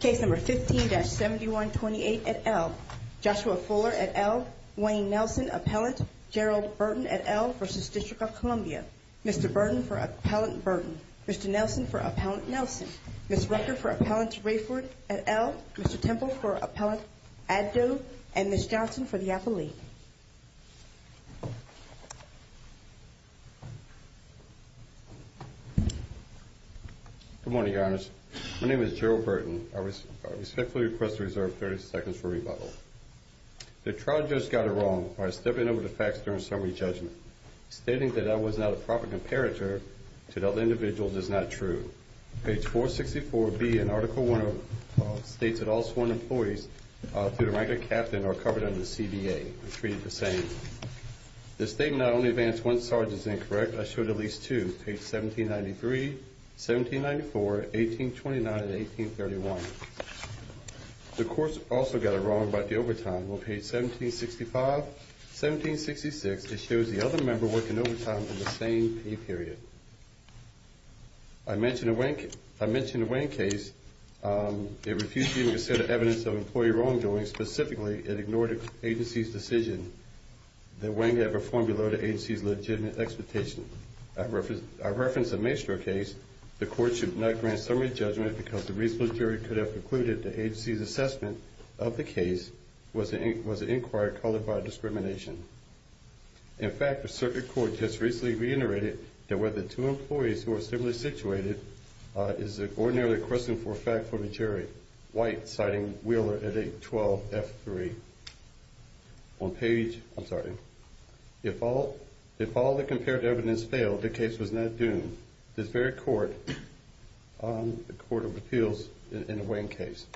Case No. 15-7128 at L. Joshua Fuller at L. Wayne Nelson, Appellant. Gerald Burton at L. v. DC. Mr. Burton for Appellant Burton. Mr. Nelson for Appellant Nelson. Ms. Rucker for Appellant Raiford at L. Mr. Temple for Appellant Addo. And Ms. Johnson for the appellee. Good morning, your honors. My name is Gerald Burton. I respectfully request to reserve 30 seconds for rebuttal. The trial judge got it wrong by stepping over the facts during summary judgment. Stating that I was not a proper comparator to the other individuals is not true. Page 464B in Article I states that all sworn employees, through the rank of captain, are covered under the CBA. I treat it the same. The statement I only advance one sergeant is incorrect. I showed at least two. Page 1793, 1794, 1829, and 1831. The court also got it wrong about the overtime. On page 1765, 1766, it shows the other member working overtime in the same pay period. I mentioned the Wang case. It refused to even consider evidence of employee wrongdoing. Specifically, it ignored the agency's decision that Wang had performed below the agency's legitimate expectation. I referenced the Maestro case. The court should not grant summary judgment because the reasonable jury could have concluded the agency's assessment of the case was inquired, called it by discrimination. In fact, a circuit court just recently reiterated that whether two employees who are similarly situated is ordinarily a question for effect for the jury. White, citing Wheeler at 812F3. On page, I'm sorry. If all the compared evidence failed, the case was not doomed. This very court, the Court of Appeals, in the Wang case.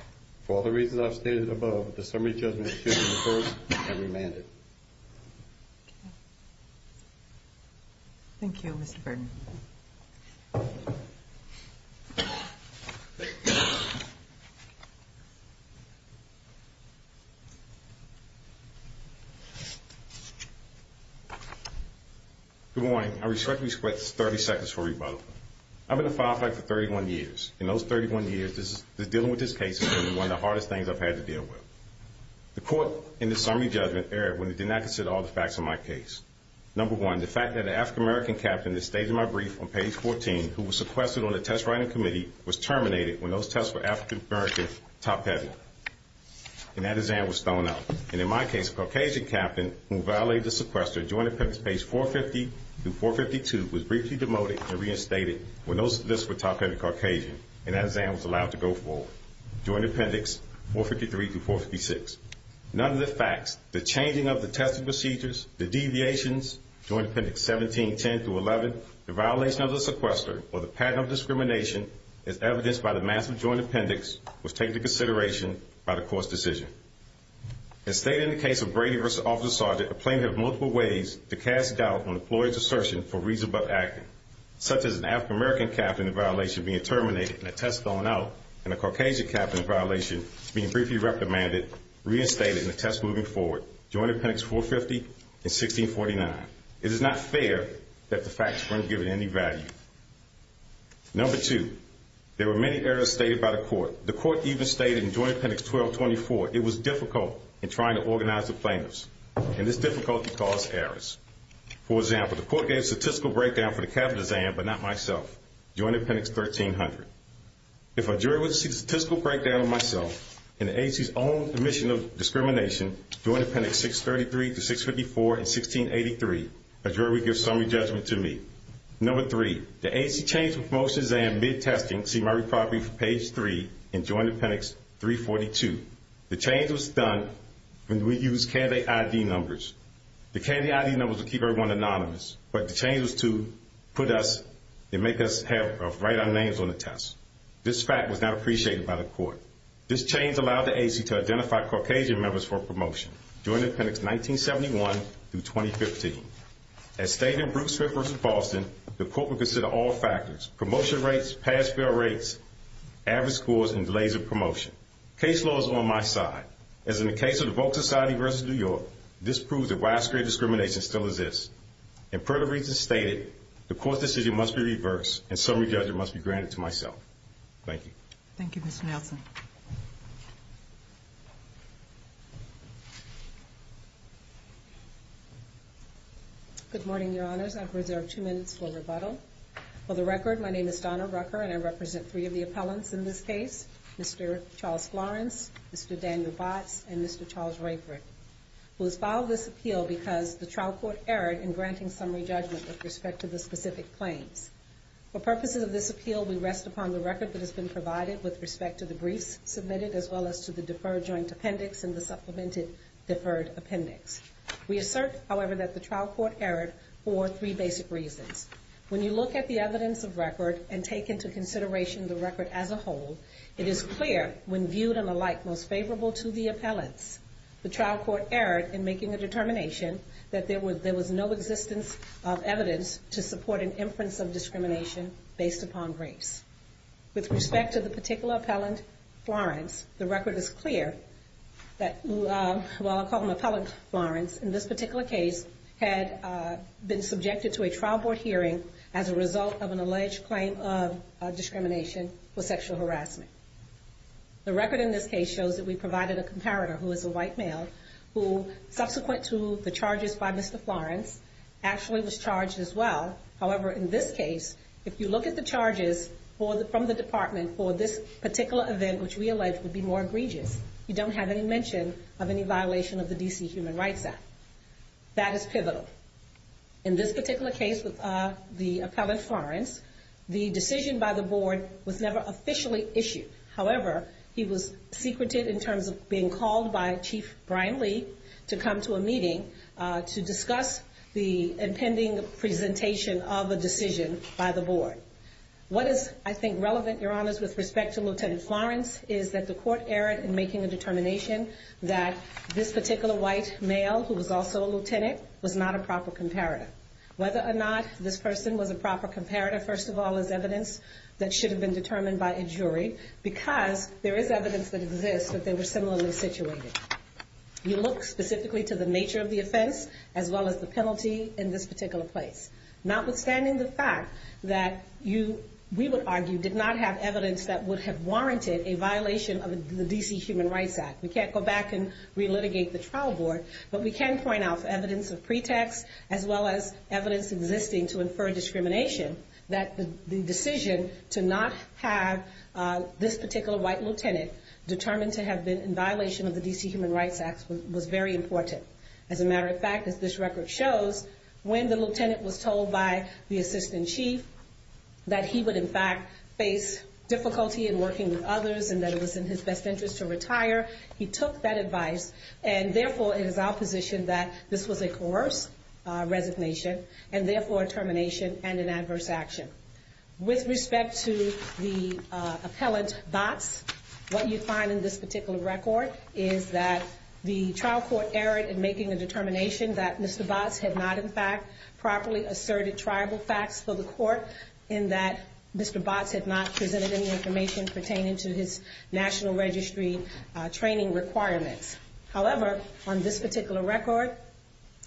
For all the reasons I've stated above, the summary judgment should be reversed and remanded. Thank you, Mr. Burton. Good morning. I respectfully request 30 seconds for rebuttal. I've been a file clerk for 31 years. In those 31 years, dealing with this case has been one of the hardest things I've had to deal with. The court in the summary judgment erred when it did not consider all the facts of my case. Number one, the fact that an African-American captain that stayed in my brief on page 14, who was sequestered on the test writing committee, was terminated when those tests were African-American, top-heavy. And that exam was thrown out. And in my case, a Caucasian captain who violated the sequester during appendix page 450 through 452 was briefly demoted and reinstated when those lists were top-heavy Caucasian. And that exam was allowed to go forward during appendix 453 through 456. None of the facts, the changing of the testing procedures, the deviations, during appendix 1710 through 11, the violation of the sequester, or the pattern of discrimination, as evidenced by the massive joint appendix, was taken into consideration by the court's decision. As stated in the case of Brady v. Officer Sargent, a plaintiff had multiple ways to cast doubt on the employee's assertion for reason but acting, such as an African-American captain in violation being terminated and a test thrown out, and a Caucasian captain in violation being briefly reprimanded, reinstated, and a test moving forward during appendix 450 and 1649. It is not fair that the facts weren't given any value. Number two, there were many errors stated by the court. The court even stated in joint appendix 1224, it was difficult in trying to organize the plaintiffs. And this difficulty caused errors. For example, the court gave a statistical breakdown for the captain's exam, but not myself, during appendix 1300. If a jury would see the statistical breakdown of myself, and the agency's own admission of discrimination, during appendix 633 to 654 in 1683, a jury would give summary judgment to me. Number three, the agency changed the promotions and mid-testing summary property from page three in joint appendix 342. The change was done when we used candidate ID numbers. The candidate ID numbers would keep everyone anonymous, but the change was to put us, make us write our names on the test. This fact was not appreciated by the court. This change allowed the agency to identify Caucasian members for promotion, during appendix 1971 through 2015. As stated in Brooks versus Boston, the court would consider all factors, promotion rates, pass-fail rates, average scores, and delays of promotion. Case law is on my side. As in the case of the Volk Society versus New York, this proves that widespread discrimination still exists. And per the reasons stated, the court's decision must be reversed, and summary judgment must be granted to myself. Thank you. Thank you, Ms. Nelson. Good morning, Your Honors. I've reserved two minutes for rebuttal. For the record, my name is Donna Rucker, and I represent three of the appellants in this case, Mr. Charles Florence, Mr. Daniel Botts, and Mr. Charles Rayford, who has filed this appeal because the trial court erred in granting summary judgment with respect to the specific claims. For purposes of this appeal, we rest upon the record that has been provided with respect to the briefs submitted, as well as to the deferred joint appendix and the supplemented deferred appendix. We assert, however, that the trial court erred for three basic reasons. When you look at the evidence of record and take into consideration the record as a whole, it is clear, when viewed in a light most favorable to the appellants, the trial court erred in making a determination that there was no existence of evidence to support an inference of discrimination based upon briefs. With respect to the particular appellant, Florence, the record is clear that, while I call him Appellant Florence, in this particular case, had been subjected to a trial board hearing as a result of an alleged claim of discrimination for sexual harassment. The record in this case shows that we provided a comparator, who is a white male, who, subsequent to the charges by Mr. Florence, actually was charged as well. However, in this case, if you look at the charges from the department for this particular event, which we allege would be more egregious, you don't have any mention of any violation of the D.C. Human Rights Act. That is pivotal. In this particular case with the Appellant Florence, the decision by the board was never officially issued. However, he was secreted in terms of being called by Chief Brian Lee to come to a meeting to discuss the impending presentation of a decision by the board. What is, I think, relevant, Your Honors, with respect to Lieutenant Florence, is that the court erred in making a determination that this particular white male, who was also a lieutenant, was not a proper comparator. Whether or not this person was a proper comparator, first of all, is evidence that should have been determined by a jury, because there is evidence that exists that they were similarly situated. You look specifically to the nature of the offense, as well as the penalty in this particular place. Notwithstanding the fact that you, we would argue, did not have evidence that would have warranted a violation of the D.C. Human Rights Act. We can't go back and re-litigate the trial board, but we can point out evidence of pretext, as well as evidence existing to infer discrimination, that the decision to not have this particular white lieutenant determined to have been in violation of the D.C. Human Rights Act, was not a proper comparator. The D.C. Human Rights Act was very important. As a matter of fact, as this record shows, when the lieutenant was told by the assistant chief that he would, in fact, face difficulty in working with others, and that it was in his best interest to retire, he took that advice, and therefore, it is our position that this was a coerced resignation, and therefore, a termination and an adverse action. With respect to the appellant, Botts, what you find in this particular record is that the trial court erred in making a determination that Mr. Botts had not, in fact, properly asserted triable facts for the court, in that Mr. Botts had not presented any information pertaining to his national registry training requirements. However, on this particular record,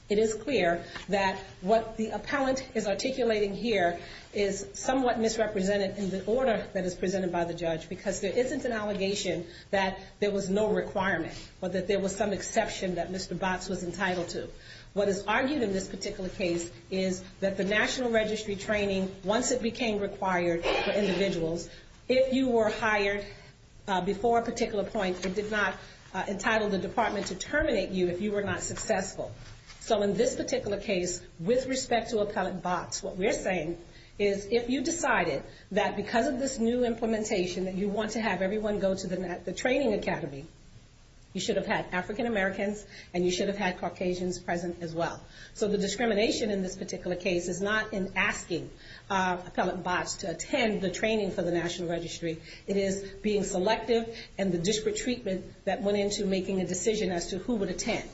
it is clear that what the appellant is articulating here is somewhat misrepresented in the order that is presented by the judge, because there isn't an allegation that there was no requirement, or that there was some exception that Mr. Botts was entitled to. What is argued in this particular case is that the national registry training, once it became required for individuals, if you were hired before a particular point, it did not entitle the department to terminate you if you were not successful. In this particular case, with respect to appellant Botts, what we're saying is if you decided that because of this new implementation that you want to have everyone go to the training academy, you should have had African Americans, and you should have had Caucasians present as well. The discrimination in this particular case is not in asking appellant Botts to attend the training for the national registry. It is being selective, and the disparate treatment that went into making a decision as to who would attend.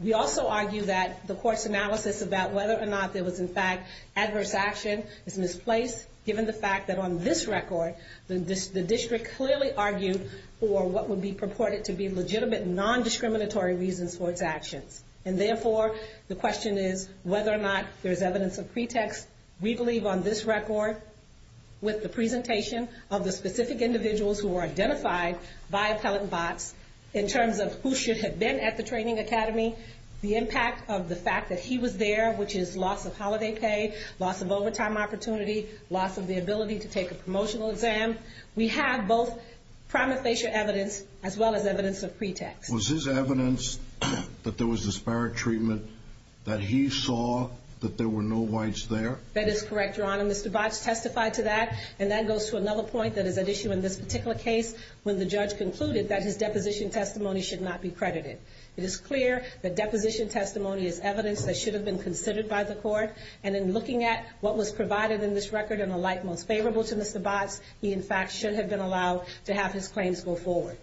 We also argue that the court's analysis about whether or not there was, in fact, adverse action is misplaced, given the fact that on this record, the district clearly argued for what would be purported to be legitimate, non-discriminatory reasons for its actions. And therefore, the question is whether or not there's evidence of pretext. We believe on this record, with the presentation of the specific individuals who were identified by appellant Botts, in terms of who should have been at the training academy, the impact of the fact that he was there, which is loss of holiday pay, loss of overtime opportunity, loss of the ability to take a promotional exam. We have both prima facie evidence, as well as evidence of pretext. Was his evidence that there was disparate treatment, that he saw that there were no whites there? That is correct, Your Honor. Mr. Botts testified to that. And that goes to another point that is at issue in this particular case, when the judge concluded that his deposition testimony should not be credited. It is clear that deposition testimony is evidence that should have been considered by the court. And in looking at what was provided in this record and the light most favorable to Mr. Botts, he, in fact, should have been allowed to have his claims go forward.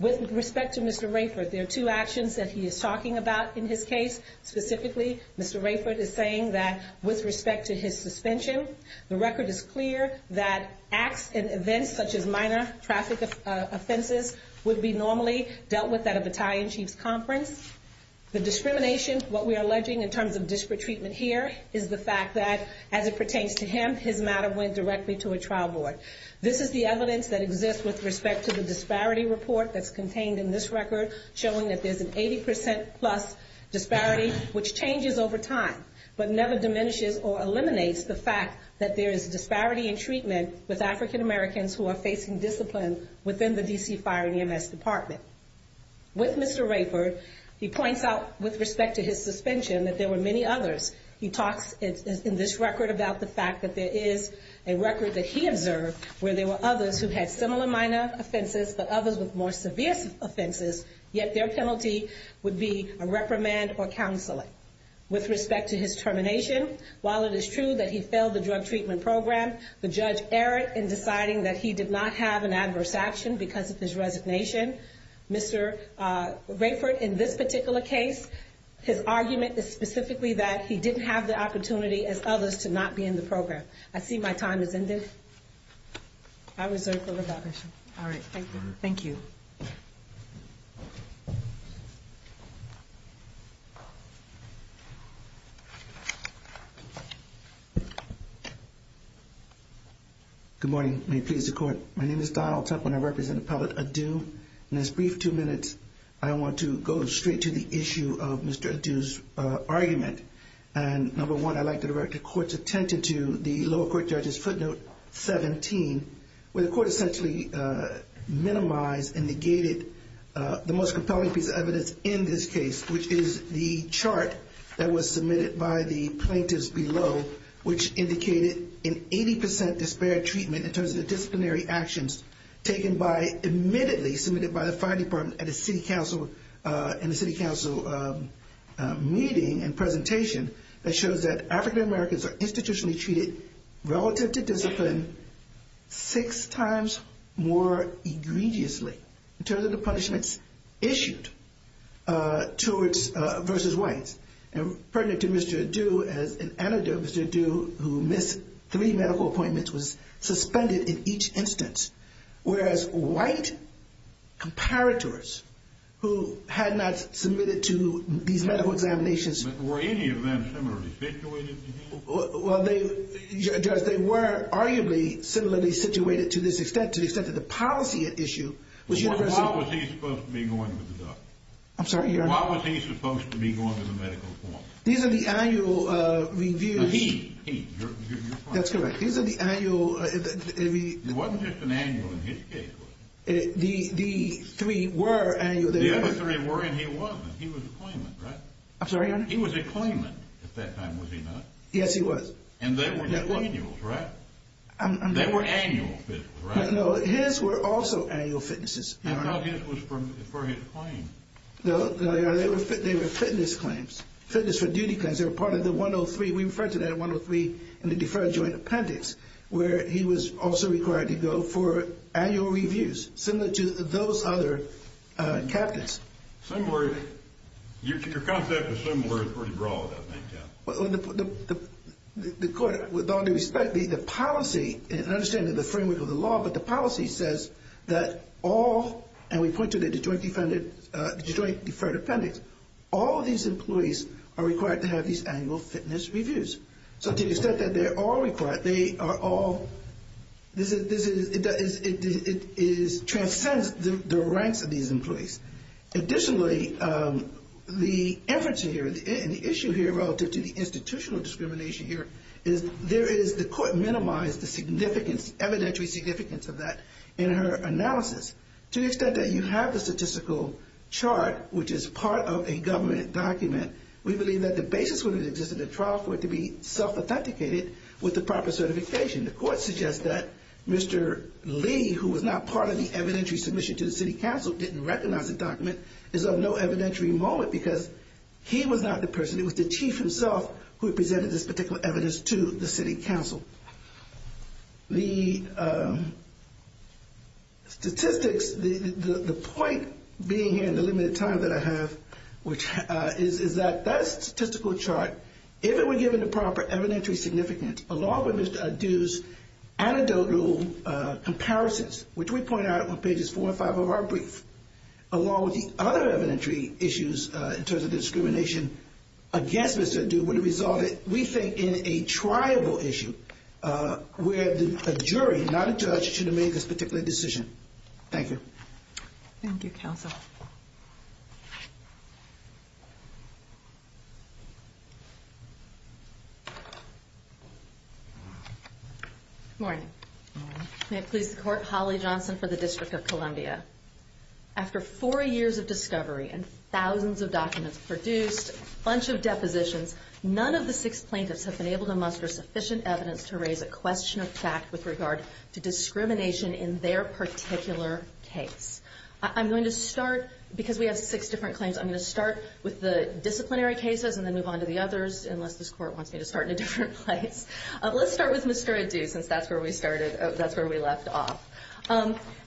With respect to Mr. Rayford, there are two actions that he is talking about in his case. Specifically, Mr. Rayford is saying that, with respect to his suspension, the record is clear that acts and events such as minor traffic offenses would be normally dealt with at a battalion chief's conference. The discrimination, what we are alleging in terms of disparate treatment here, is the fact that, as it pertains to him, his matter went directly to a trial board. This is the evidence that exists with respect to the disparity report that is contained in this record, showing that there is an 80% plus disparity, which changes over time, but never diminishes or eliminates the fact that there is disparity in treatment with African Americans who are facing discipline within the D.C. Fire and EMS Department. With Mr. Rayford, he points out, with respect to his suspension, that there were many others. He talks in this record about the fact that there is a record that he observed where there were others who had similar minor offenses, but others with more severe offenses, yet their penalty would be a reprimand or counseling. With respect to his termination, while it is true that he failed the drug treatment program, the judge erred in deciding that he did not have an adverse action because of his resignation. Mr. Rayford, in this particular case, his argument is specifically that he didn't have the opportunity, as others, to not be in the program. I see my time has ended. I reserve the revolution. All right. Thank you. Thank you. Good morning. May it please the Court. My name is Donald Templin. I represent Appellate Adu. In this brief two minutes, I want to go straight to the issue of Mr. Adu's argument. Number one, I'd like to direct the Court's attention to the lower court judge's footnote 17, where the Court essentially minimized and negated the most compelling piece of evidence in this case, which is the chart that was submitted by the plaintiffs below, which indicated an 80% disparate treatment in terms of disciplinary actions, taken by, admittedly, submitted by the Fire Department at a City Council meeting and presentation, that shows that African Americans are institutionally treated, relative to discipline, six times more egregiously in terms of the punishments issued versus whites. And pertinent to Mr. Adu, as an anecdote, Mr. Adu, who missed three medical appointments, was suspended in each instance, whereas white comparators who had not submitted to these medical examinations Were any of them similarly situated to him? Well, Judge, they were arguably similarly situated to this extent, to the extent that the policy at issue was universally Well, why was he supposed to be going to the doctor? I'm sorry, Your Honor. Why was he supposed to be going to the medical court? These are the annual reviews He, he, your point That's correct. These are the annual It wasn't just an annual in his case, was it? The three were annual The other three were and he wasn't. He was a claimant, right? I'm sorry, Your Honor He was a claimant at that time, was he not? Yes, he was And they were annuals, right? I'm They were annual, right? No, his were also annual fitnesses, Your Honor No, his was for his claim No, they were fitness claims, fitness for duty claims They were part of the 103, we refer to that 103 in the deferred joint appendix Where he was also required to go for annual reviews Similar to those other captains Similar, your concept of similar is pretty broad, I think, yeah Well, the, the, the court, with all due respect, the, the policy And understanding the framework of the law, but the policy says that all And we point to the joint defunded, the joint deferred appendix All these employees are required to have these annual fitness reviews So to the extent that they are all required, they are all This is, this is, it is, it transcends the ranks of these employees Additionally, the inference here, the issue here relative to the institutional discrimination here Is there is, the court minimized the significance, evidentiary significance of that In her analysis, to the extent that you have the statistical chart Which is part of a government document We believe that the basis when it existed in trial for it to be self-authenticated With the proper certification, the court suggests that Mr. Lee Who was not part of the evidentiary submission to the city council Didn't recognize the document, is of no evidentiary moment Because he was not the person, it was the chief himself Who presented this particular evidence to the city council The statistics, the point being here in the limited time that I have Is that that statistical chart, if it were given the proper evidentiary significance Along with Mr. Adu's anecdotal comparisons Which we point out on pages four and five of our brief Along with the other evidentiary issues in terms of discrimination Against Mr. Adu would have resulted, we think, in a triable issue Where a jury, not a judge, should have made this particular decision Thank you Thank you, counsel Good morning Good morning After four years of discovery and thousands of documents produced A bunch of depositions None of the six plaintiffs have been able to muster sufficient evidence To raise a question of fact with regard to discrimination in their particular case I'm going to start, because we have six different claims I'm going to start with the disciplinary cases and then move on to the others Unless this court wants me to start in a different place Let's start with Mr. Adu, since that's where we started That's where we left off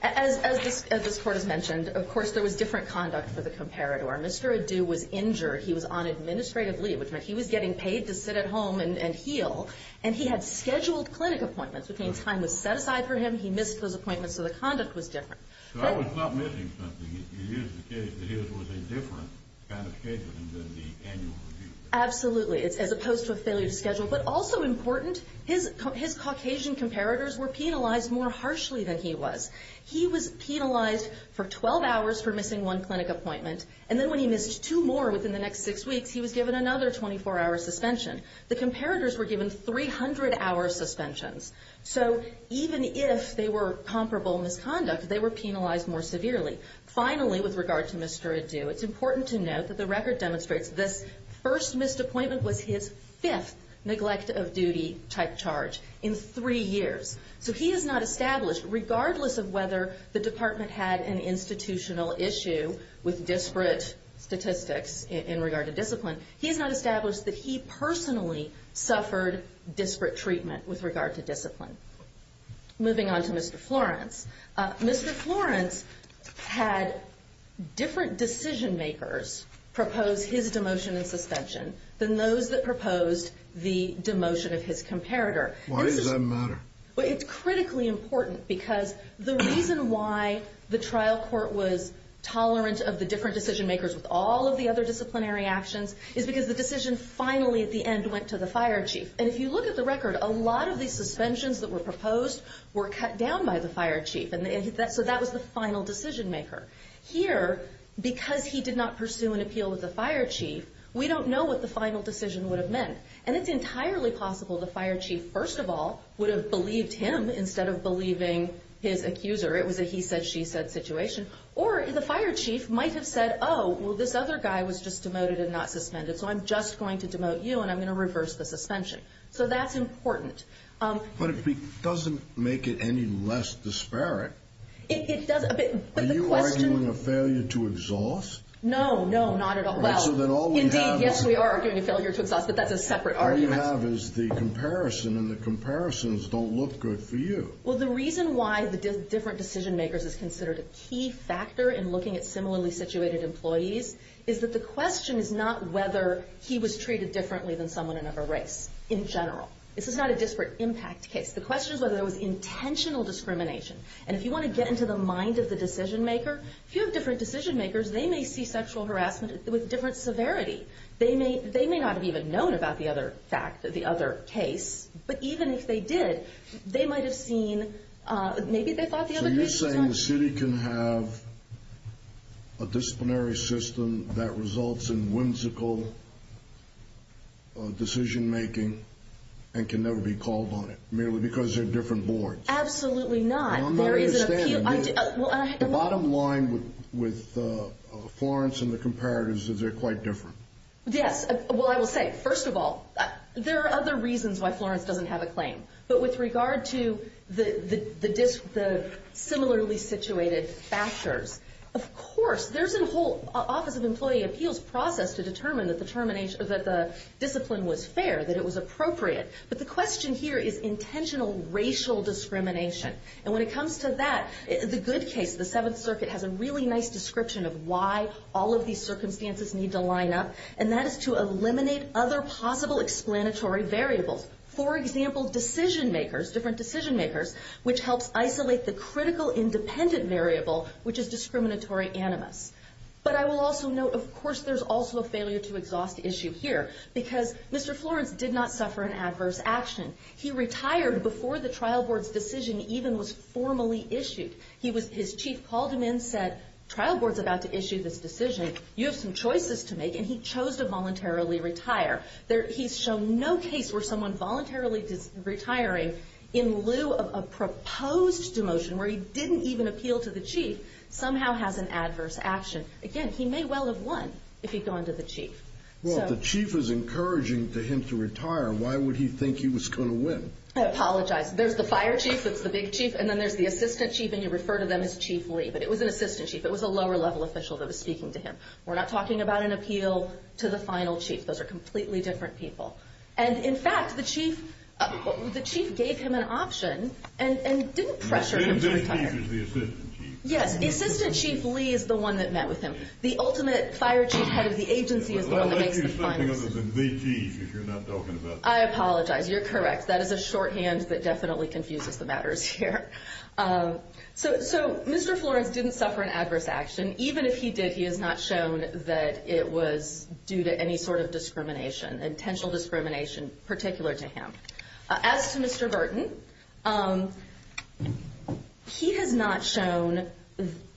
As this court has mentioned, of course, there was different conduct for the comparator Mr. Adu was injured, he was on administrative leave Which meant he was getting paid to sit at home and heal And he had scheduled clinic appointments Which means time was set aside for him, he missed those appointments So the conduct was different So I was not missing something You used the case that it was a different kind of case than the annual review Absolutely, as opposed to a failure to schedule But also important, his Caucasian comparators were penalized more harshly than he was He was penalized for 12 hours for missing one clinic appointment And then when he missed two more within the next six weeks He was given another 24-hour suspension The comparators were given 300-hour suspensions So even if they were comparable misconduct, they were penalized more severely Finally, with regard to Mr. Adu It's important to note that the record demonstrates This first missed appointment was his fifth neglect of duty type charge In three years So he has not established, regardless of whether the department had an institutional issue With disparate statistics in regard to discipline He has not established that he personally suffered disparate treatment with regard to discipline Moving on to Mr. Florence Mr. Florence had different decision makers propose his demotion and suspension Than those that proposed the demotion of his comparator Why does that matter? Well, it's critically important Because the reason why the trial court was tolerant of the different decision makers With all of the other disciplinary actions Is because the decision finally at the end went to the fire chief And if you look at the record A lot of the suspensions that were proposed were cut down by the fire chief So that was the final decision maker Here, because he did not pursue an appeal with the fire chief We don't know what the final decision would have meant And it's entirely possible the fire chief, first of all Would have believed him instead of believing his accuser It was a he-said-she-said situation Or the fire chief might have said Oh, well this other guy was just demoted and not suspended So I'm just going to demote you and I'm going to reverse the suspension So that's important But it doesn't make it any less disparate It doesn't, but the question Are you arguing a failure to exhaust? No, no, not at all Indeed, yes we are arguing a failure to exhaust But that's a separate argument All you have is the comparison And the comparisons don't look good for you Well, the reason why the different decision makers Is considered a key factor in looking at similarly situated employees Is that the question is not whether He was treated differently than someone in another race In general This is not a disparate impact case The question is whether there was intentional discrimination And if you want to get into the mind of the decision maker If you have different decision makers They may see sexual harassment with different severity They may not have even known about the other fact The other case But even if they did They might have seen Maybe they thought the other case was... So you're saying the city can have A disciplinary system that results in whimsical Decision making And can never be called on it Merely because they're different boards Absolutely not I'm not understanding The bottom line with Florence and the comparatives Is they're quite different Yes, well I will say First of all There are other reasons why Florence doesn't have a claim But with regard to the similarly situated factors Of course There's a whole Office of Employee Appeals process To determine that the discipline was fair That it was appropriate But the question here is intentional racial discrimination And when it comes to that The good case The Seventh Circuit has a really nice description Of why all of these circumstances need to line up And that is to eliminate other possible explanatory variables For example Decision makers Different decision makers Which helps isolate the critical independent variable Which is discriminatory animus But I will also note Of course there's also a failure to exhaust issue here Because Mr. Florence did not suffer an adverse action He retired before the trial board's decision Even was formally issued His chief called him in Said trial board's about to issue this decision You have some choices to make And he chose to voluntarily retire He's shown no case where someone voluntarily retiring In lieu of a proposed demotion Where he didn't even appeal to the chief Somehow has an adverse action Again he may well have won If he'd gone to the chief Well if the chief is encouraging him to retire Why would he think he was going to win? I apologize There's the fire chief That's the big chief And then there's the assistant chief And you refer to them as Chief Lee But it was an assistant chief It was a lower level official that was speaking to him We're not talking about an appeal to the final chief Those are completely different people And in fact the chief The chief gave him an option And didn't pressure him to retire The assistant chief is the assistant chief Yes The assistant chief Lee is the one that met with him The ultimate fire chief head of the agency Is the one that makes the final decision I'll let you say something other than the chief If you're not talking about the chief I apologize You're correct That is a shorthand That definitely confuses the matters here So Mr. Florence didn't suffer an adverse action Even if he did He has not shown that it was due to any sort of discrimination Intentional discrimination Particular to him As to Mr. Burton He has not shown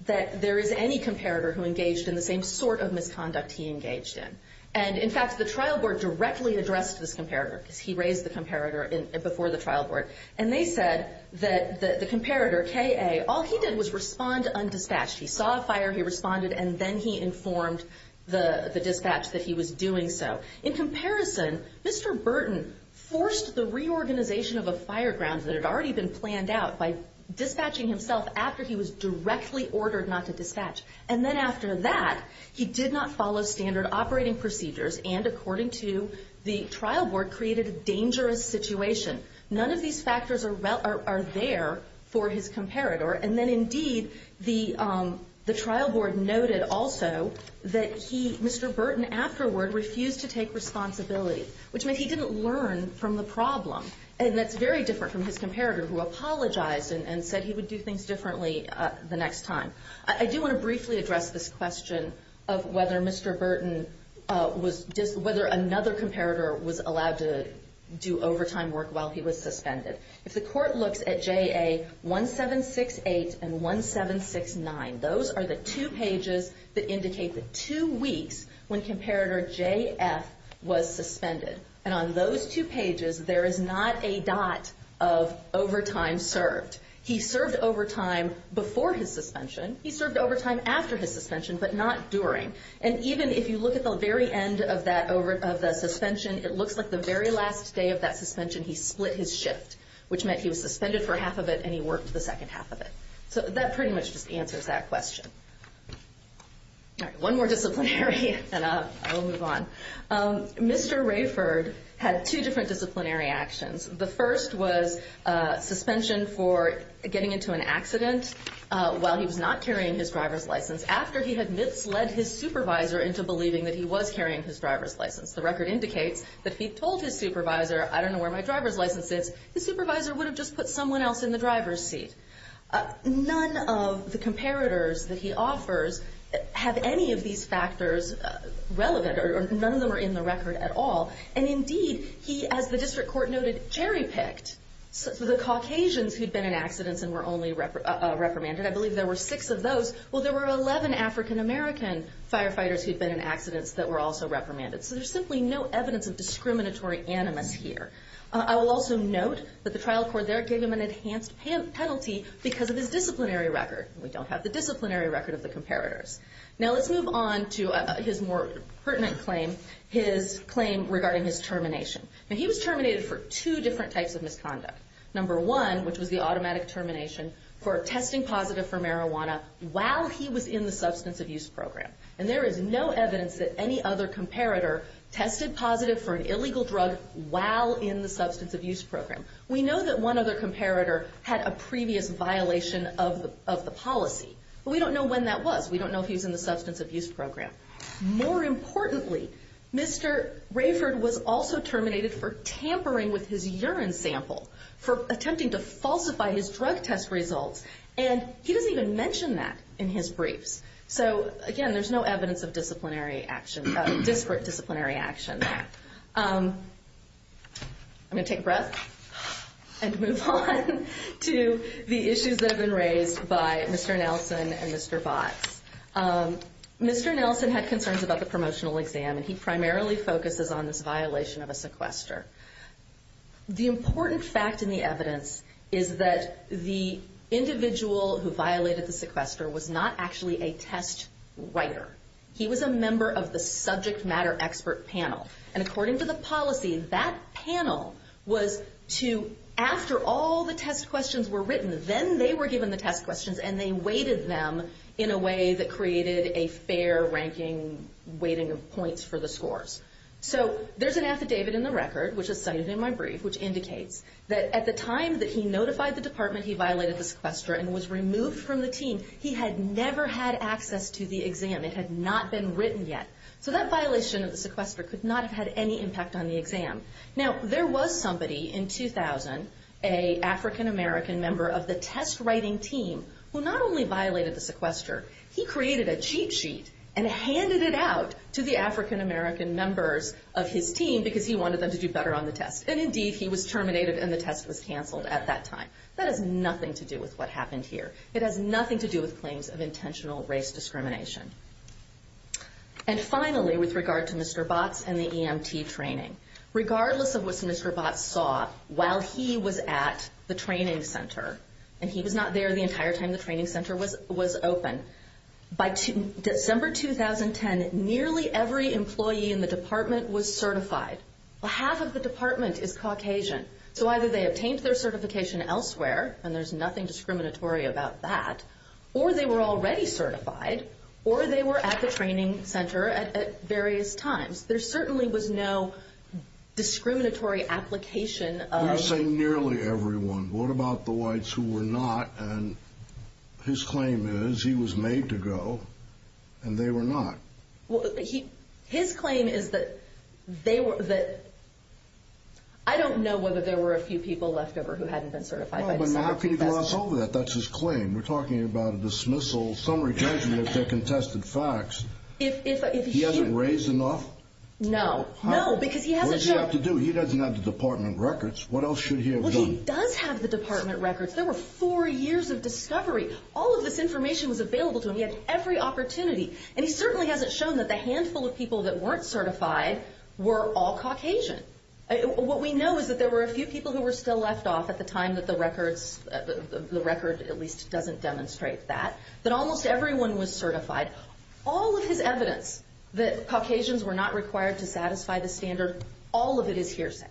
that there is any comparator Who engaged in the same sort of misconduct he engaged in And in fact the trial board directly addressed this comparator Because he raised the comparator before the trial board And they said that the comparator K.A. All he did was respond undispatched He saw a fire, he responded And then he informed the dispatch that he was doing so In comparison Mr. Burton forced the reorganization of a fire ground That had already been planned out By dispatching himself after he was directly ordered not to dispatch And then after that He did not follow standard operating procedures And according to the trial board Created a dangerous situation None of these factors are there for his comparator And then indeed the trial board noted also That Mr. Burton afterward refused to take responsibility Which meant he didn't learn from the problem And that's very different from his comparator Who apologized and said he would do things differently the next time I do want to briefly address this question Of whether Mr. Burton Whether another comparator was allowed to do overtime work While he was suspended If the court looks at J.A. 1768 and 1769 Those are the two pages that indicate the two weeks When comparator J.F. was suspended And on those two pages There is not a dot of overtime served He served overtime before his suspension He served overtime after his suspension But not during And even if you look at the very end of the suspension It looks like the very last day of that suspension He split his shift Which meant he was suspended for half of it And he worked the second half of it So that pretty much just answers that question One more disciplinary and I'll move on Mr. Rayford had two different disciplinary actions The first was suspension for getting into an accident While he was not carrying his driver's license After he had misled his supervisor Into believing that he was carrying his driver's license The record indicates that if he told his supervisor I don't know where my driver's license is The supervisor would have just put someone else in the driver's seat None of the comparators that he offers Have any of these factors relevant Or none of them are in the record at all And indeed he, as the district court noted, cherry-picked So the Caucasians who'd been in accidents And were only reprimanded I believe there were six of those Well there were 11 African-American firefighters Who'd been in accidents that were also reprimanded So there's simply no evidence of discriminatory animus here I will also note that the trial court there Gave him an enhanced penalty Because of his disciplinary record We don't have the disciplinary record of the comparators Now let's move on to his more pertinent claim His claim regarding his termination Now he was terminated for two different types of misconduct Number one, which was the automatic termination For testing positive for marijuana While he was in the substance abuse program And there is no evidence that any other comparator Tested positive for an illegal drug While in the substance abuse program We know that one other comparator Had a previous violation of the policy But we don't know when that was We don't know if he was in the substance abuse program More importantly, Mr. Rayford was also terminated For tampering with his urine sample For attempting to falsify his drug test results And he doesn't even mention that in his briefs So again, there's no evidence of disciplinary action Disparate disciplinary action I'm going to take a breath And move on to the issues that have been raised By Mr. Nelson and Mr. Votz Mr. Nelson had concerns about the promotional exam And he primarily focuses on this violation of a sequester The important fact in the evidence Is that the individual who violated the sequester Was not actually a test writer He was a member of the subject matter expert panel And according to the policy That panel was to After all the test questions were written Then they were given the test questions And they weighted them in a way That created a fair ranking Weighting of points for the scores So there's an affidavit in the record Which is cited in my brief Which indicates that at the time That he notified the department He violated the sequester And was removed from the team He had never had access to the exam It had not been written yet So that violation of the sequester Could not have had any impact on the exam Now there was somebody in 2000 An African-American member of the test writing team Who not only violated the sequester He created a cheat sheet And handed it out to the African-American members Of his team Because he wanted them to do better on the test And indeed he was terminated And the test was canceled at that time That has nothing to do with what happened here It has nothing to do with claims Of intentional race discrimination And finally with regard to Mr. Botts And the EMT training Regardless of what Mr. Botts saw While he was at the training center And he was not there the entire time The training center was open By December 2010 Nearly every employee in the department Was certified Half of the department is Caucasian So either they obtained their certification elsewhere And there's nothing discriminatory about that Or they were already certified Or they were at the training center At various times There certainly was no discriminatory application You're saying nearly everyone What about the whites who were not And his claim is He was made to go And they were not His claim is that They were I don't know whether there were a few people left over Who hadn't been certified How can you gloss over that? That's his claim We're talking about a dismissal Summary judgment of their contested facts He hasn't raised enough? No What does he have to do? He doesn't have the department records What else should he have done? He does have the department records There were four years of discovery All of this information was available to him He had every opportunity And he certainly hasn't shown that the handful of people That weren't certified were all Caucasian What we know is that there were a few people Who were still left off at the time That the records At least doesn't demonstrate that That almost everyone was certified All of his evidence That Caucasians were not required to satisfy the standard All of it is hearsay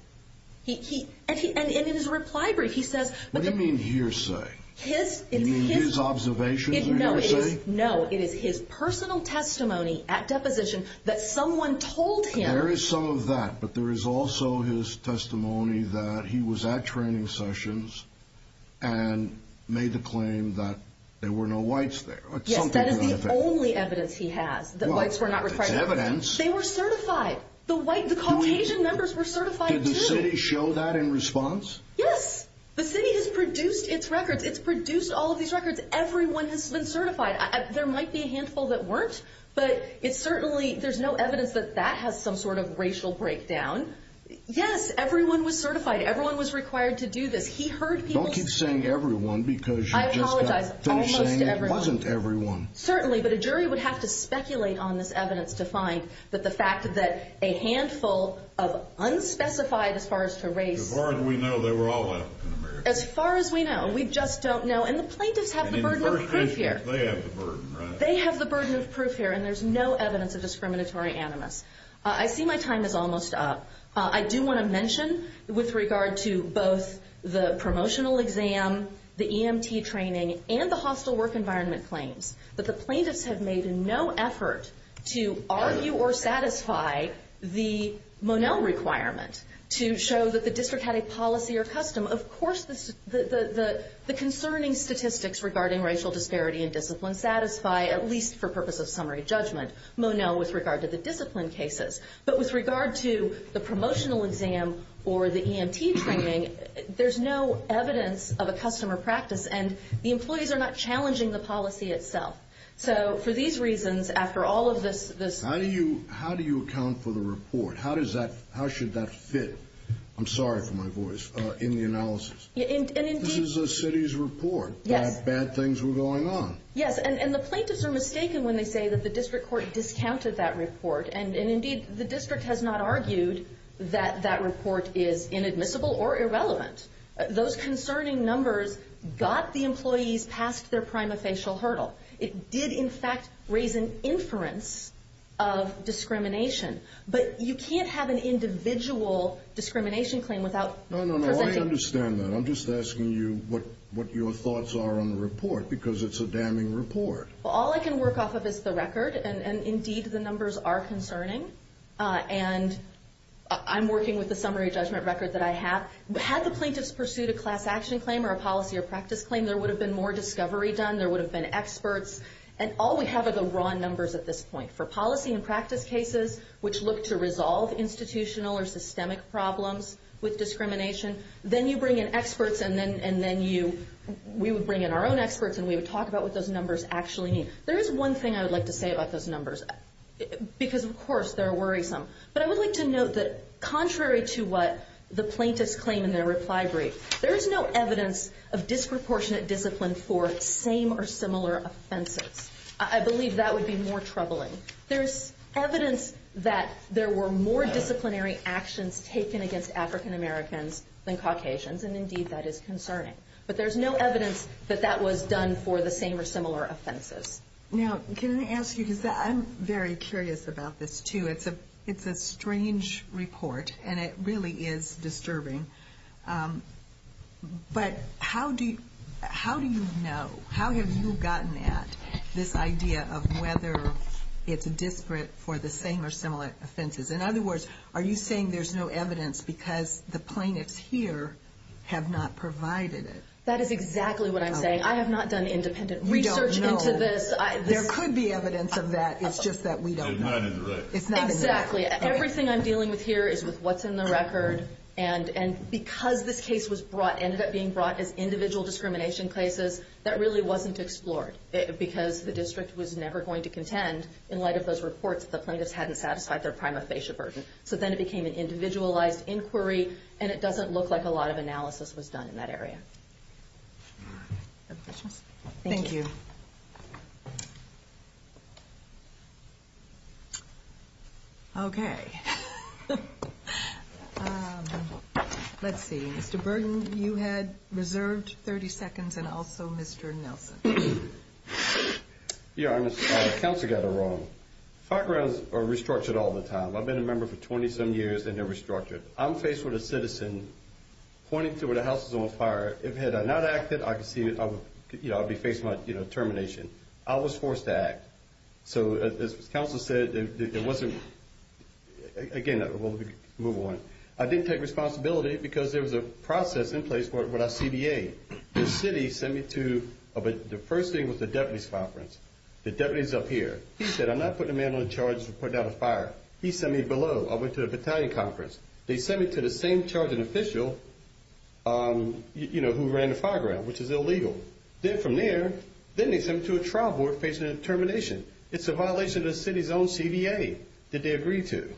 And in his reply brief What do you mean hearsay? You mean his observations are hearsay? No It is his personal testimony At deposition that someone told him There is some of that But there is also his testimony That he was at training sessions And made the claim That there were no whites there Yes, that is the only evidence he has That whites were not required They were certified The Caucasian members were certified Did the city show that in response? Yes The city has produced its records It's produced all of these records Everyone has been certified There might be a handful that weren't But it certainly There is no evidence that that has some sort of racial breakdown Yes, everyone was certified Everyone was required to do this He heard people Don't keep saying everyone I apologize Don't keep saying it wasn't everyone Certainly, but a jury would have to speculate on this evidence To find that the fact that a handful Of unspecified as far as to race As far as we know they were all African American As far as we know We just don't know And the plaintiffs have the burden of proof here They have the burden And there is no evidence of discriminatory animus I see my time is almost up I do want to mention With regard to both The promotional exam The EMT training And the hostile work environment claims That the plaintiffs have made no effort To argue or satisfy The Monell requirement To show that the district Had a policy or custom Of course The concerning statistics regarding racial disparity And discipline satisfy At least for purpose of summary judgment Monell with regard to the discipline cases But with regard to the promotional exam Or the EMT training There is no evidence Of a customer practice And the employees are not challenging the policy itself So for these reasons After all of this How do you account for the report? How should that fit? I'm sorry for my voice In the analysis This is the city's report That bad things were going on Yes and the plaintiffs are mistaken When they say that the district court Discounted that report And indeed the district has not argued That that report is inadmissible or irrelevant Those concerning numbers Got the employees past their prima facial hurdle It did in fact Raise an inference Of discrimination But you can't have an individual Discrimination claim without No no no I understand that I'm just asking you What your thoughts are on the report Because it's a damning report All I can work off of is the record And indeed the numbers are concerning And I'm working with the summary judgment record That I have Had the plaintiffs pursued a class action claim Or a policy or practice claim There would have been more discovery done There would have been experts And all we have are the wrong numbers At this point for policy and practice cases Which look to resolve institutional Or systemic problems With discrimination Then you bring in experts And then we would bring in our own experts And we would talk about what those numbers actually mean There is one thing I would like to say about those numbers Because of course they're worrisome But I would like to note that Contrary to what the plaintiffs claim In their reply brief There is no evidence of disproportionate discipline For same or similar offenses I believe that would be more troubling There's evidence that There were more disciplinary actions Taken against African Americans Than Caucasians And indeed that is concerning But there's no evidence that that was done For the same or similar offenses Now can I ask you Because I'm very curious about this too It's a strange report And it really is disturbing But how do you How have you gotten at This idea of whether It's disparate for the same or similar offenses In other words Are you saying there's no evidence Because the plaintiffs here Have not provided it That is exactly what I'm saying I have not done independent research into this There could be evidence of that It's just that we don't know Everything I'm dealing with here Is with what's in the record And because this case was brought And ended up being brought as individual discrimination cases That really wasn't explored Because the district was never going to contend In light of those reports That the plaintiffs hadn't satisfied their prima facie burden So then it became an individualized inquiry And it doesn't look like a lot of analysis Was done in that area Thank you Okay Let's see Let's see Mr. Burden You had reserved 30 seconds And also Mr. Nelson Your Honor Counsel got it wrong Firegrounds are restructured all the time I've been a member for 20 some years And they're restructured I'm faced with a citizen Pointing to where the house is on fire If had I not acted I could see I'd be facing my termination I was forced to act So as counsel said It wasn't Again we'll move on I didn't take responsibility Because there was a process in place When I CBA The city sent me to The first thing was the deputy's conference The deputy's up here He said I'm not putting a man on charge For putting out a fire He sent me below I went to the battalion conference They sent me to the same charging official Who ran the fireground Which is illegal Then from there Then they sent me to a trial board Facing a termination It's a violation of the city's own CBA That they agreed to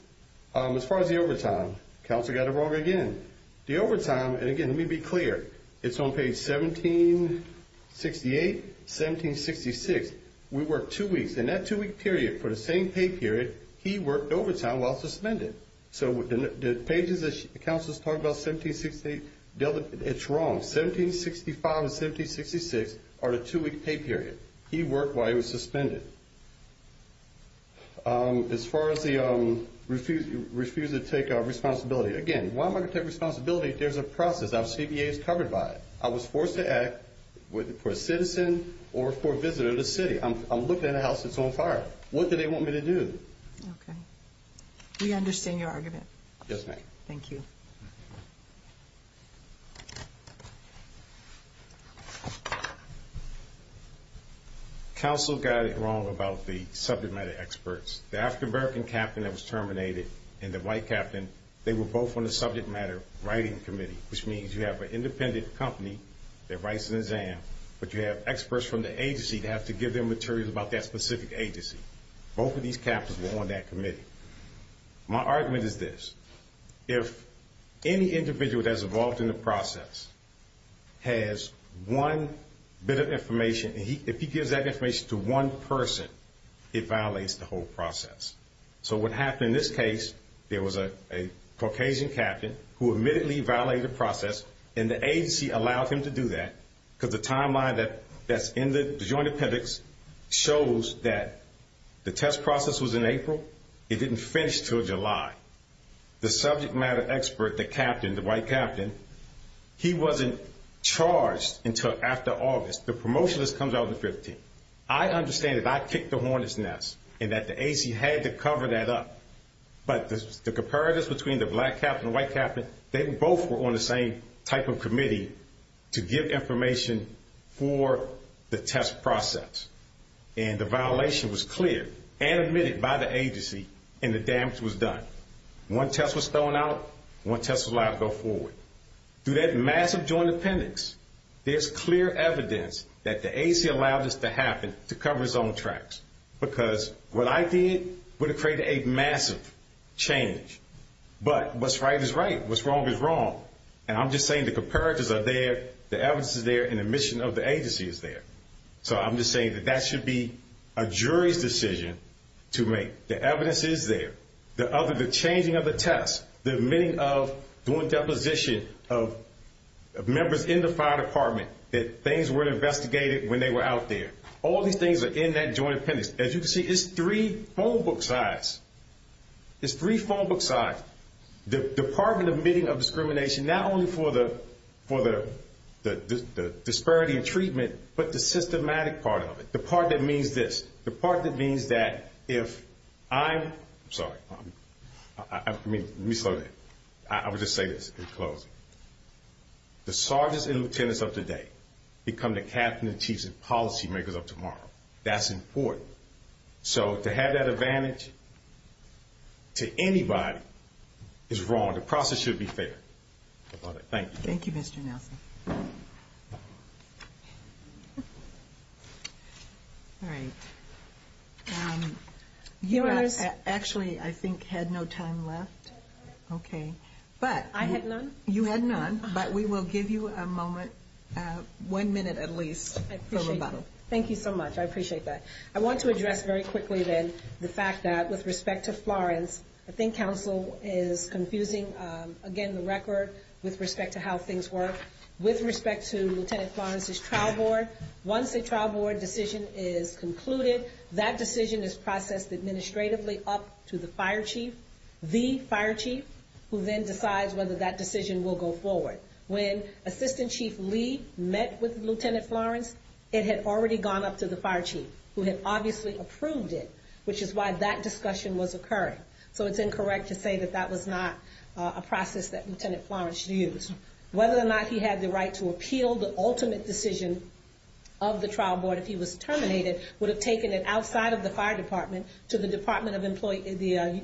As far as the overtime Counsel got it wrong again The overtime And again let me be clear It's on page 1768 1766 We worked two weeks And that two week period For the same pay period He worked overtime while suspended So the pages that counsel is talking about 1768 It's wrong 1765 and 1766 are the two week pay period He worked while he was suspended As far as the Refuse to take responsibility Again why am I going to take responsibility There's a process The CBA is covered by it I was forced to act For a citizen or for a visitor to the city I'm looking at a house that's on fire What do they want me to do We understand your argument Yes ma'am Thank you Counsel got it wrong About the subject matter experts The African American captain that was terminated And the white captain They were both on the subject matter Writing committee Which means you have an independent company That writes the exam But you have experts from the agency That have to give them material about that specific agency Both of these captains were on that committee My argument is this If any individual that's involved In the process Has one bit of information And if he gives that information To one person It violates the whole process So what happened in this case There was a Caucasian captain Who admittedly violated the process And the agency allowed him to do that Because the timeline that's in the Joint appendix Shows that the test process Was in April It didn't finish until July The subject matter expert, the captain The white captain He wasn't charged until after August The promotionalist comes out in the 15th I understand that I kicked the hornet's nest And that the agency had to cover that up But the comparatives Between the black captain and the white captain They both were on the same type of committee To give information For the test process And the violation Was clear and admitted by the agency And the damage was done One test was thrown out One test was allowed to go forward Through that massive joint appendix There's clear evidence That the agency allowed this to happen To cover its own tracks Because what I did Would have created a massive change But what's right is right What's wrong is wrong And I'm just saying the comparatives are there The evidence is there and the admission of the agency is there So I'm just saying that that should be A jury's decision To make The evidence is there The changing of the test The admitting of doing deposition Of members in the fire department That things weren't investigated When they were out there All these things are in that joint appendix As you can see it's three phone book size It's three phone book size The department admitting of discrimination Not only for the Disparity in treatment But the systematic part of it The part that means this The part that means that if I'm I'm sorry Let me slow down I will just say this Let me make it close The sergeants and lieutenants of today Become the captains and chiefs And policy makers of tomorrow That's important So to have that advantage To anybody Is wrong The process should be fair Thank you Thank you Mr. Nelson Alright You actually I think had no time left Okay I had none You had none but we will give you a moment One minute at least Thank you so much I appreciate that I want to address very quickly then The fact that with respect to Florence I think council is confusing Again the record With respect to how things work With respect to Lieutenant Florence's trial board Once the trial board decision Is concluded That decision is processed administratively It has already gone up to the fire chief The fire chief Who then decides whether that decision will go forward When assistant chief Lee Met with Lieutenant Florence It had already gone up to the fire chief Who had obviously approved it Which is why that discussion was occurring So it's incorrect to say that that was not A process that Lieutenant Florence used Whether or not he had the right To appeal the ultimate decision Of the trial board If he was terminated Would have taken it outside of the fire department To the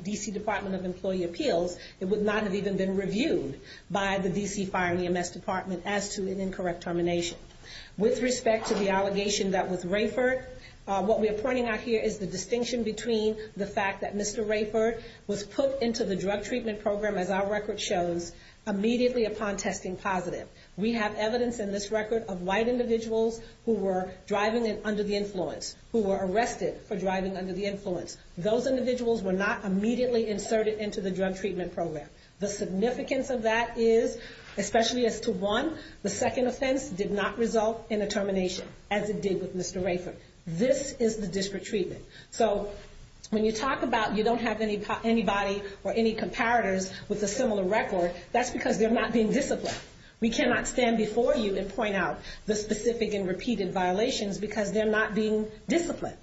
D.C. Department of Employee Appeals It would not have even been reviewed By the D.C. Fire and EMS Department As to an incorrect termination With respect to the allegation that was Rayford What we are pointing out here is the distinction between The fact that Mr. Rayford Was put into the drug treatment program As our record shows Immediately upon testing positive We have evidence in this record of white individuals Who were driving under the influence Who were arrested For driving under the influence Those individuals were not immediately inserted Into the drug treatment program The significance of that is Especially as to one, the second offense Did not result in a termination As it did with Mr. Rayford This is the district treatment So when you talk about you don't have Anybody or any comparators With a similar record That's because they're not being disciplined We cannot stand before you and point out The specific and repeated violations Because they're not being disciplined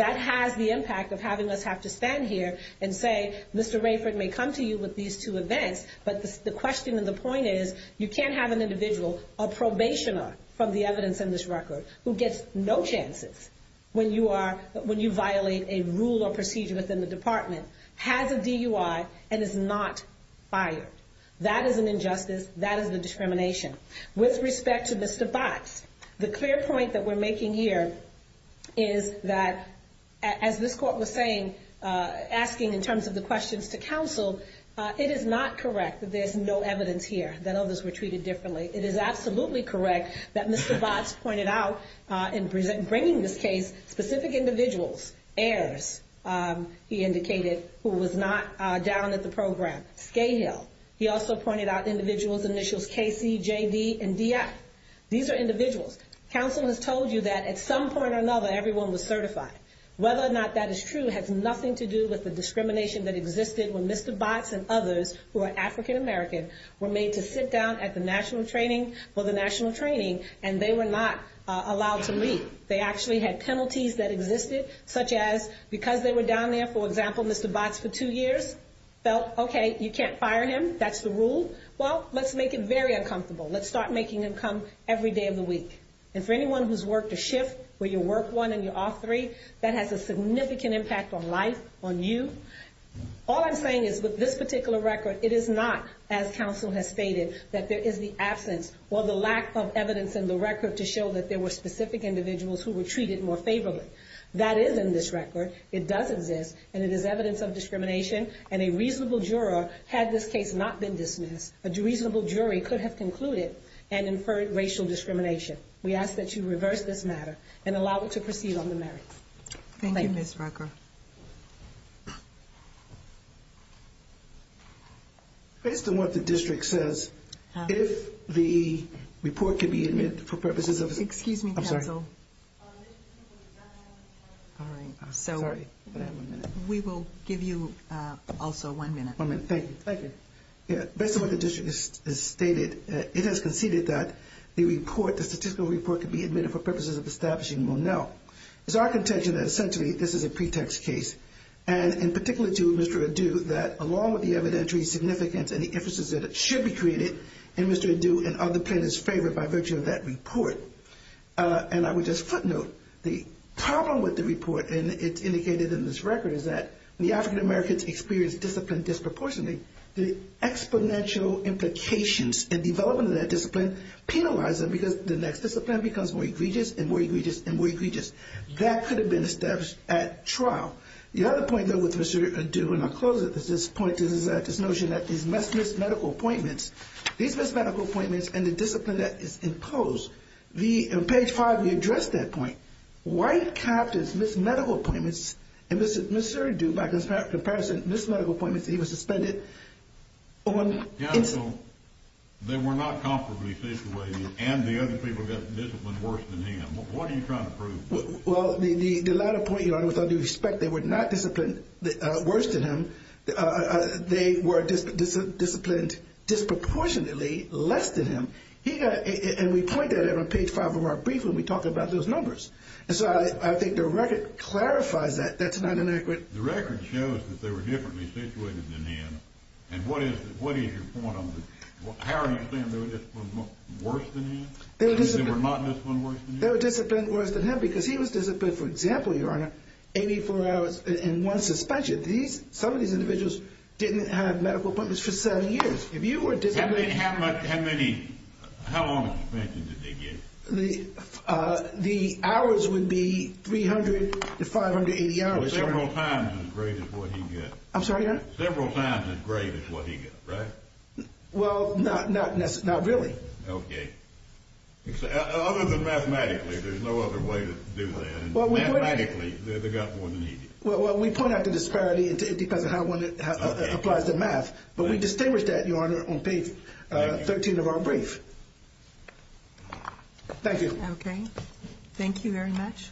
That has the impact of having us Have to stand here and say Mr. Rayford may come to you with these two events But the question and the point is You can't have an individual A probationer from the evidence in this record Who gets no chances When you violate A rule or procedure within the department Has a DUI And is not fired That is an injustice That is a discrimination With respect to Mr. Botts The clear point that we're making here Is that As this court was saying Asking in terms of the questions to counsel It is not correct That there's no evidence here That others were treated differently It is absolutely correct that Mr. Botts pointed out In bringing this case Specific individuals He indicated Who was not down at the program He also pointed out Individuals, initials KC, JD And DF These are individuals Counsel has told you that at some point or another Everyone was certified Whether or not that is true Has nothing to do with the discrimination that existed When Mr. Botts and others Who are African American Were made to sit down at the national training For the national training And they were not allowed to leave They actually had penalties that existed Such as, because they were down there For example, Mr. Botts for two years Felt, okay, you can't fire him That's the rule Well, let's make it very uncomfortable Let's start making them come every day of the week And for anyone who's worked a shift Where you work one and you're off three That has a significant impact on life, on you All I'm saying is With this particular record It is not, as counsel has stated That there is the absence Or the lack of evidence in the record To show that there were specific individuals Who were treated more favorably That is in this record It does exist, and it is evidence of discrimination And a reasonable juror Had this case not been dismissed A reasonable jury could have concluded And inferred racial discrimination We ask that you reverse this matter And allow it to proceed on the merits Thank you, Ms. Rucker Thank you Based on what the district says If the report could be admitted For purposes of Excuse me, counsel Sorry We will give you Also one minute Thank you Based on what the district has stated It has conceded that the report The statistical report could be admitted For purposes of establishing Monell It is our contention that essentially This is a pretext case And in particular to Mr. Adu That along with the evidentiary significance And the emphasis that it should be created And Mr. Adu and other plaintiffs favored By virtue of that report And I would just footnote The problem with the report And it's indicated in this record Is that when the African Americans Experience discipline disproportionately The exponential implications And development of that discipline Penalize them because the next discipline Becomes more egregious and more egregious That could have been established at trial The other point though with Mr. Adu And I'll close at this point Is this notion that these missed medical appointments These missed medical appointments And the discipline that is imposed In page 5 we address that point White captives missed medical appointments And Mr. Adu By comparison Missed medical appointments He was suspended They were not Comfortably situated And the other people got disciplined worse than him What are you trying to prove? Well the latter point your honor With all due respect they were not disciplined worse than him They were Disciplined Disproportionately less than him And we point that out on page 5 Of our brief when we talk about those numbers And so I think the record Clarifies that that's not an accurate The record shows that they were Differently situated than him And what is your point on How are you saying they were Disciplined worse than him They were disciplined worse than him Because he was disciplined for example your honor 84 hours in one suspension Some of these individuals Didn't have medical appointments for 7 years If you were disciplined How many, how long Did they get The hours would be 300 to 580 hours Several times as great as what he got I'm sorry your honor Several times as great as what he got right Well not really Okay Other than mathematically there's no other way To do that Mathematically they got more than he did Well we point out the disparity It depends on how one applies the math But we distinguish that your honor on page 13 of our brief Thank you Okay Thank you very much